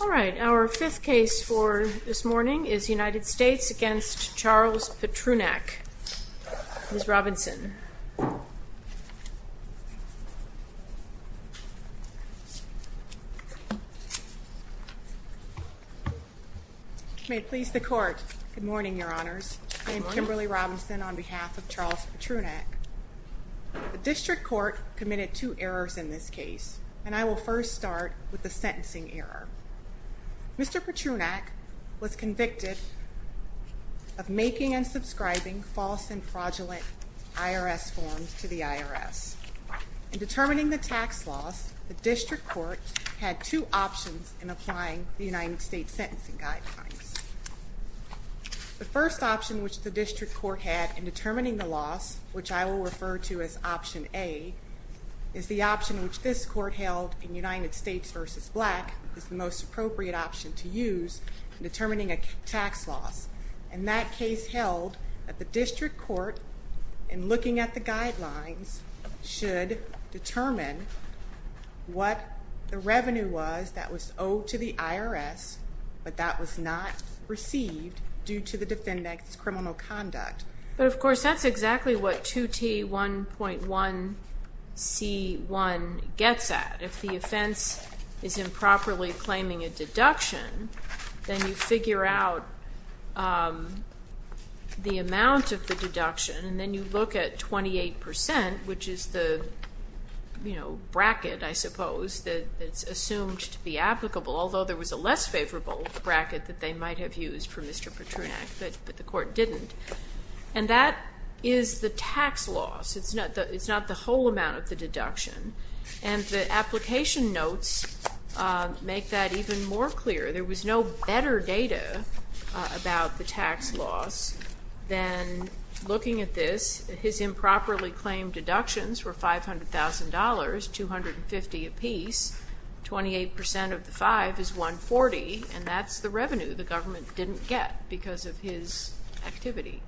All right. Our fifth case for this morning is United States v. Charles Petrunak. Ms. Robinson. May it please the Court. Good morning, Your Honors. I'm Kimberly Robinson on behalf of Charles Petrunak. The District Court committed two errors in this case, and I will first start with the sentencing error. Mr. Petrunak was convicted of making and subscribing false and fraudulent IRS forms to the IRS. In determining the tax loss, the District Court had two options in applying the United States sentencing guidelines. The first option which the District Court had in determining the loss, which I will refer to as option A, is the option which this Court held in United States v. Black is the most appropriate option to use in determining a tax loss. And that case held that the District Court, in looking at the guidelines, should determine what the revenue was that was owed to the IRS, but that was not received due to the defendant's criminal conduct. But, of course, that's exactly what 2T1.1C1 gets at. If the offense is improperly claiming a deduction, then you figure out the amount of the deduction, and then you look at 28 percent, which is the bracket, I suppose, that's assumed to be applicable, although there was a less favorable bracket that they might have used for Mr. Petrunak, but the Court didn't. And that is the tax loss. It's not the whole amount of the deduction. And the application notes make that even more clear. There was no better data about the tax loss than looking at this. His improperly claimed deductions were $500,000, 250 apiece. 28 percent of the 5 is 140, and that's the revenue the government didn't get because of his activity.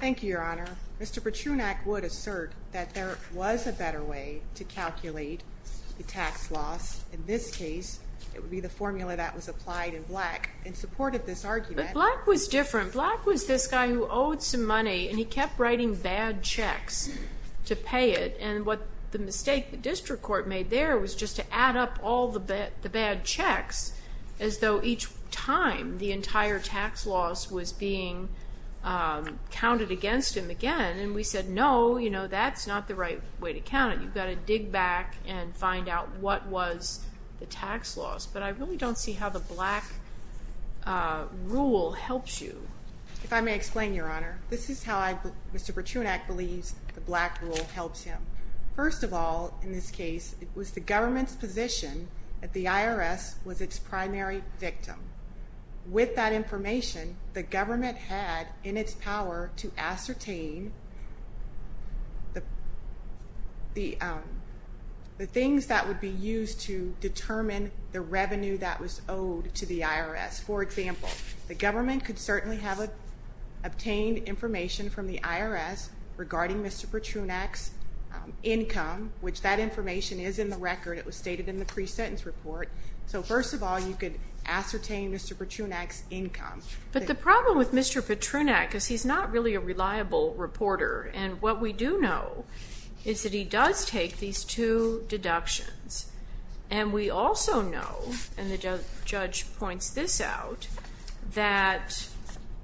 Thank you, Your Honor. Mr. Petrunak would assert that there was a better way to calculate the tax loss. In this case, it would be the formula that was applied in Black and supported this argument. But Black was different. Black was this guy who owed some money, and he kept writing bad checks to pay it. And what the mistake the district court made there was just to add up all the bad checks as though each time the entire tax loss was being counted against him again. And we said, no, you know, that's not the right way to count it. You've got to dig back and find out what was the tax loss. But I really don't see how the Black rule helps you. If I may explain, Your Honor, this is how Mr. Petrunak believes the Black rule helps him. First of all, in this case, it was the government's position that the IRS was its primary victim. With that information, the government had in its power to ascertain the things that would be used to determine the revenue that was owed to the IRS. For example, the government could certainly have obtained information from the IRS regarding Mr. Petrunak's income, which that information is in the record. It was stated in the pre-sentence report. So first of all, you could ascertain Mr. Petrunak's income. But the problem with Mr. Petrunak is he's not really a reliable reporter. And what we do know is that he does take these two deductions. And we also know, and the judge points this out, that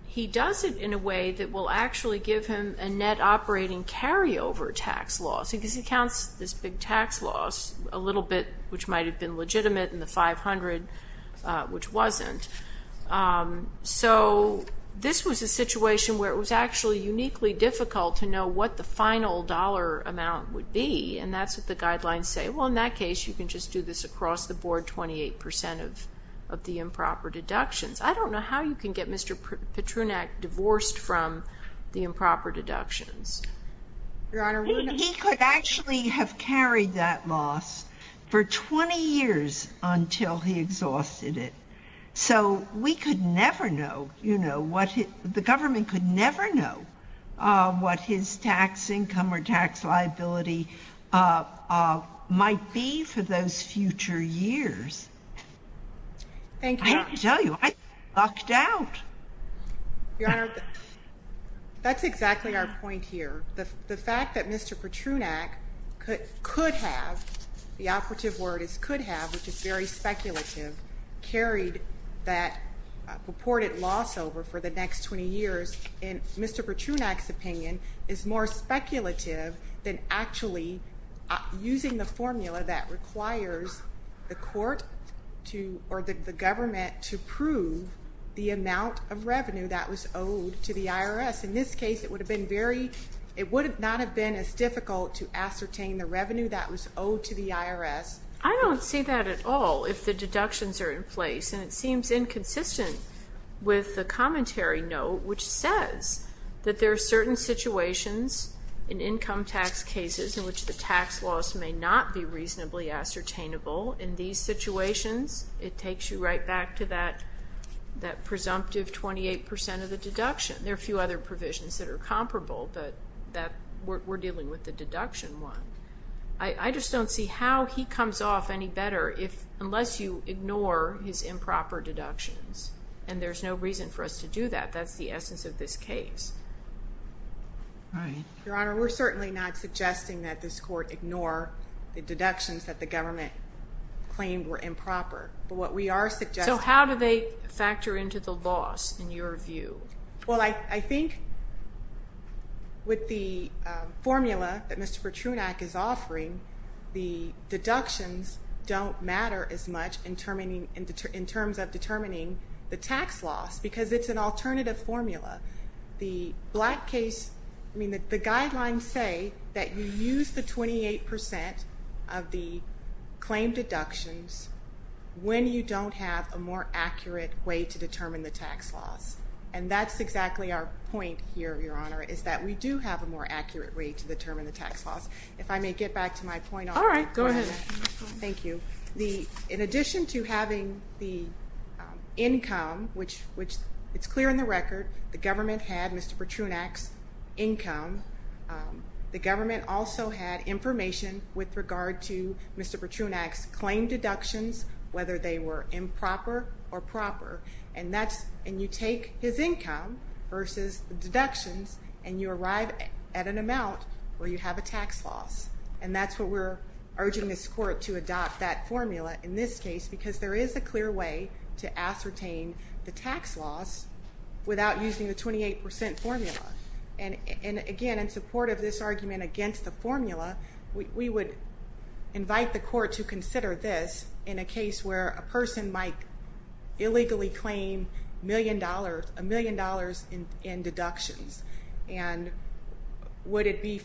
he does it in a way that will actually give him a net operating carryover tax loss. He counts this big tax loss a little bit, which might have been legitimate, and the 500, which wasn't. So this was a situation where it was actually uniquely difficult to know what the final dollar amount would be. And that's what the guidelines say. Well, in that case, you can just do this across the board, 28% of the improper deductions. I don't know how you can get Mr. Petrunak divorced from the improper deductions. He could actually have carried that loss for 20 years until he exhausted it. So we could never know, you know, the government could never know what his tax income or tax liability might be for those future years. Thank you. I can tell you, I lucked out. Your Honor, that's exactly our point here. The fact that Mr. Petrunak could have, the operative word is could have, which is very speculative, carried that purported loss over for the next 20 years, in Mr. Petrunak's opinion, is more speculative than actually using the formula that requires the court to, or the government to prove the amount of revenue that was owed to the IRS. In this case, it would have been very, it would not have been as difficult to ascertain the revenue that was owed to the IRS. I don't see that at all if the deductions are in place. And it seems inconsistent with the commentary note, which says that there are certain situations in income tax cases in which the tax loss may not be reasonably ascertainable. In these situations, it takes you right back to that presumptive 28% of the deduction. There are a few other provisions that are comparable, but we're dealing with the deduction one. I just don't see how he comes off any better unless you ignore his improper deductions. And there's no reason for us to do that. That's the essence of this case. Your Honor, we're certainly not suggesting that this court ignore the deductions that the government claimed were improper. But what we are suggesting. So how do they factor into the loss in your view? Well, I think with the formula that Mr. Petrunak is offering, the deductions don't matter as much in terms of determining the tax loss because it's an alternative formula. The black case, I mean the guidelines say that you use the 28% of the claim deductions when you don't have a more accurate way to determine the tax loss. And that's exactly our point here, Your Honor, is that we do have a more accurate way to determine the tax loss. If I may get back to my point. All right. Go ahead. Thank you. In addition to having the income, which it's clear in the record, the government had Mr. Petrunak's income. The government also had information with regard to Mr. Petrunak's claim deductions, whether they were improper or proper. And you take his income versus the deductions and you arrive at an amount where you have a tax loss. And that's what we're urging this court to adopt that formula in this case because there is a clear way to ascertain the tax loss without using the 28% formula. And, again, in support of this argument against the formula, we would invite the court to consider this in a case where a person might illegally claim a million dollars in deductions. And would it be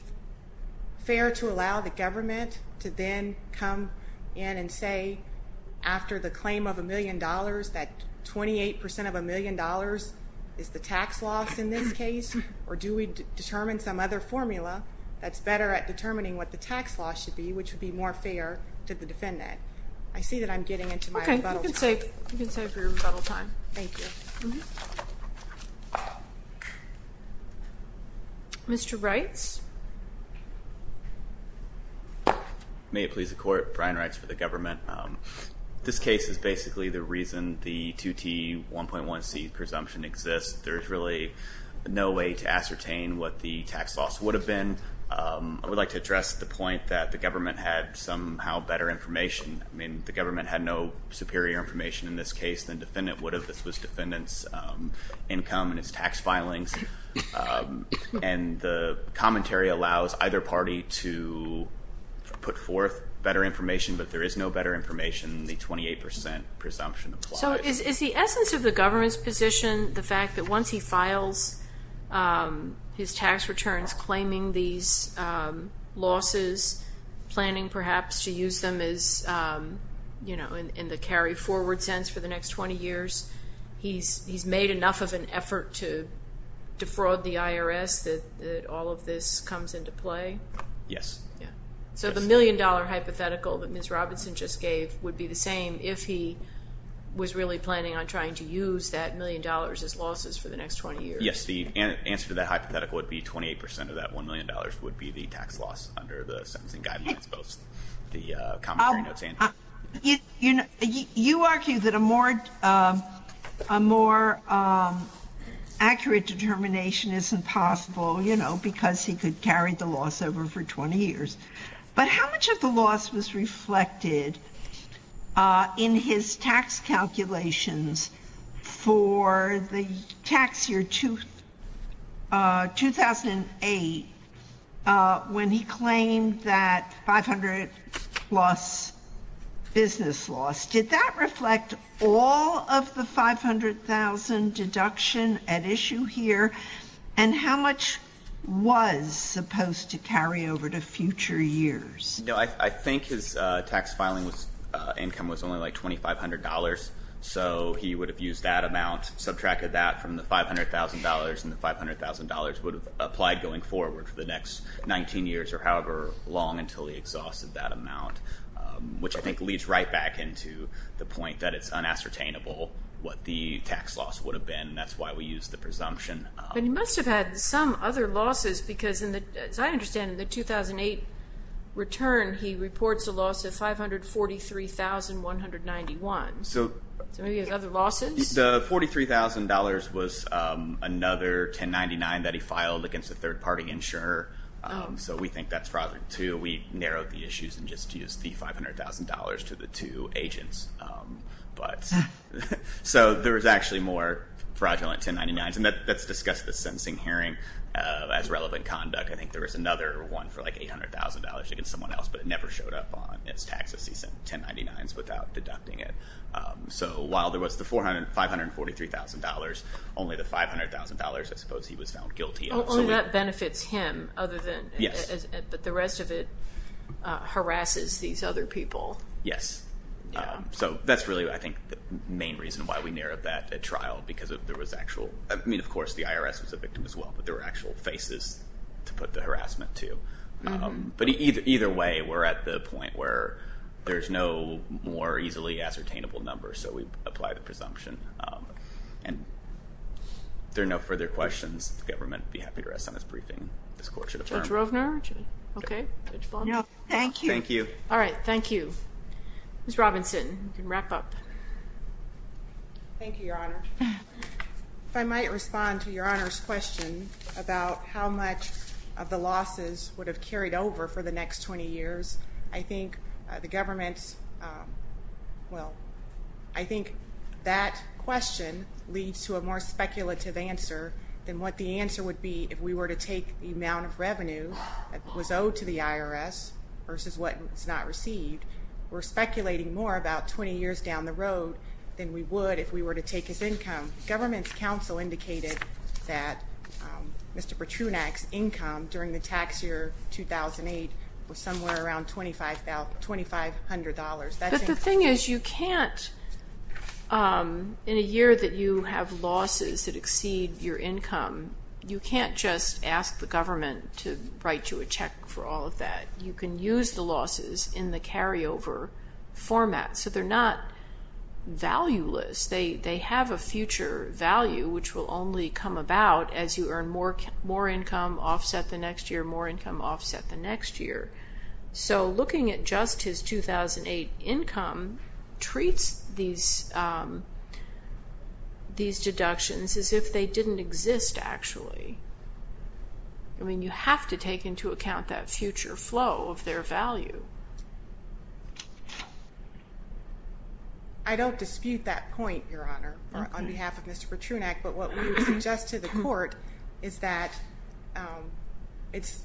fair to allow the government to then come in and say, after the claim of a million dollars, that 28% of a million dollars is the tax loss in this case? Or do we determine some other formula that's better at determining what the tax loss should be, which would be more fair to the defendant? I see that I'm getting into my rebuttal time. Okay. You can save your rebuttal time. Thank you. Mr. Reitz. May it please the Court. Brian Reitz for the government. This case is basically the reason the 2T1.1c presumption exists. There's really no way to ascertain what the tax loss would have been. I would like to address the point that the government had somehow better information. I mean, the government had no superior information in this case than the defendant would have. This was defendant's income and his tax filings. And the commentary allows either party to put forth better information, but there is no better information than the 28% presumption applies. So is the essence of the government's position the fact that once he files his tax returns claiming these losses, planning perhaps to use them as, you know, in the carry-forward sense for the next 20 years, he's made enough of an effort to defraud the IRS that all of this comes into play? Yes. So the million-dollar hypothetical that Ms. Robinson just gave would be the same if he was really planning on trying to use that million dollars as losses for the next 20 years? Yes. The answer to that hypothetical would be 28% of that $1 million would be the tax loss under the sentencing guidelines, both the commentary notes and- You argue that a more accurate determination isn't possible, you know, because he could carry the loss over for 20 years. But how much of the loss was reflected in his tax calculations for the tax year 2008 when he claimed that 500 plus business loss? Did that reflect all of the 500,000 deduction at issue here? And how much was supposed to carry over to future years? You know, I think his tax filing income was only like $2,500, so he would have used that amount, subtracted that from the $500,000, and the $500,000 would have applied going forward for the next 19 years or however long until he exhausted that amount, which I think leads right back into the point that it's unassertainable what the tax loss would have been, and that's why we use the presumption. But he must have had some other losses because, as I understand, in the 2008 return, he reports a loss of $543,191. So maybe he has other losses? The $43,000 was another 1099 that he filed against a third-party insurer, so we think that's fraudulent, too. We narrowed the issues and just used the $500,000 to the two agents. But so there was actually more fraudulent 1099s, and that's discussed in the sentencing hearing as relevant conduct. I think there was another one for like $800,000 against someone else, but it never showed up on his taxes. He sent 1099s without deducting it. So while there was the $543,000, only the $500,000, I suppose, he was found guilty of. Only that benefits him other than the rest of it harasses these other people. Yes. So that's really, I think, the main reason why we narrowed that trial because there was actual—I mean, of course, the IRS was a victim as well, but there were actual faces to put the harassment to. But either way, we're at the point where there's no more easily ascertainable number, so we apply the presumption. And if there are no further questions, the government would be happy to rest on this briefing. This court should affirm. Judge Rovner? Okay. Thank you. Thank you. All right. Thank you. Ms. Robinson, you can wrap up. Thank you, Your Honor. If I might respond to Your Honor's question about how much of the losses would have carried over for the next 20 years, I think the government's— well, I think that question leads to a more speculative answer that was owed to the IRS versus what was not received. We're speculating more about 20 years down the road than we would if we were to take his income. The government's counsel indicated that Mr. Petrunak's income during the tax year 2008 was somewhere around $2,500. But the thing is you can't, in a year that you have losses that exceed your income, you can't just ask the government to write you a check for all of that. You can use the losses in the carryover format. So they're not valueless. They have a future value which will only come about as you earn more income, offset the next year, more income, offset the next year. So looking at just his 2008 income treats these deductions as if they didn't exist actually. I mean, you have to take into account that future flow of their value. I don't dispute that point, Your Honor, on behalf of Mr. Petrunak. But what we would suggest to the court is that it's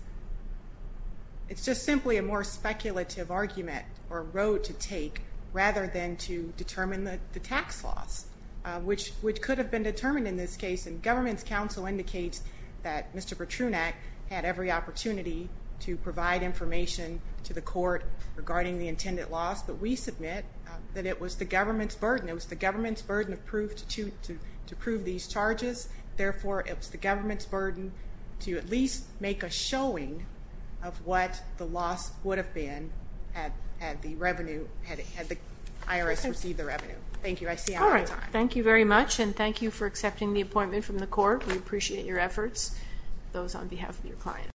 just simply a more speculative argument or road to take rather than to determine the tax loss, which could have been determined in this case. And government's counsel indicates that Mr. Petrunak had every opportunity to provide information to the court regarding the intended loss. But we submit that it was the government's burden. It was the government's burden to prove these charges. Therefore, it was the government's burden to at least make a showing of what the loss would have been had the IRS received the revenue. Thank you. I see I'm out of time. All right. Thank you very much, and thank you for accepting the appointment from the court. We appreciate your efforts. Those on behalf of your client.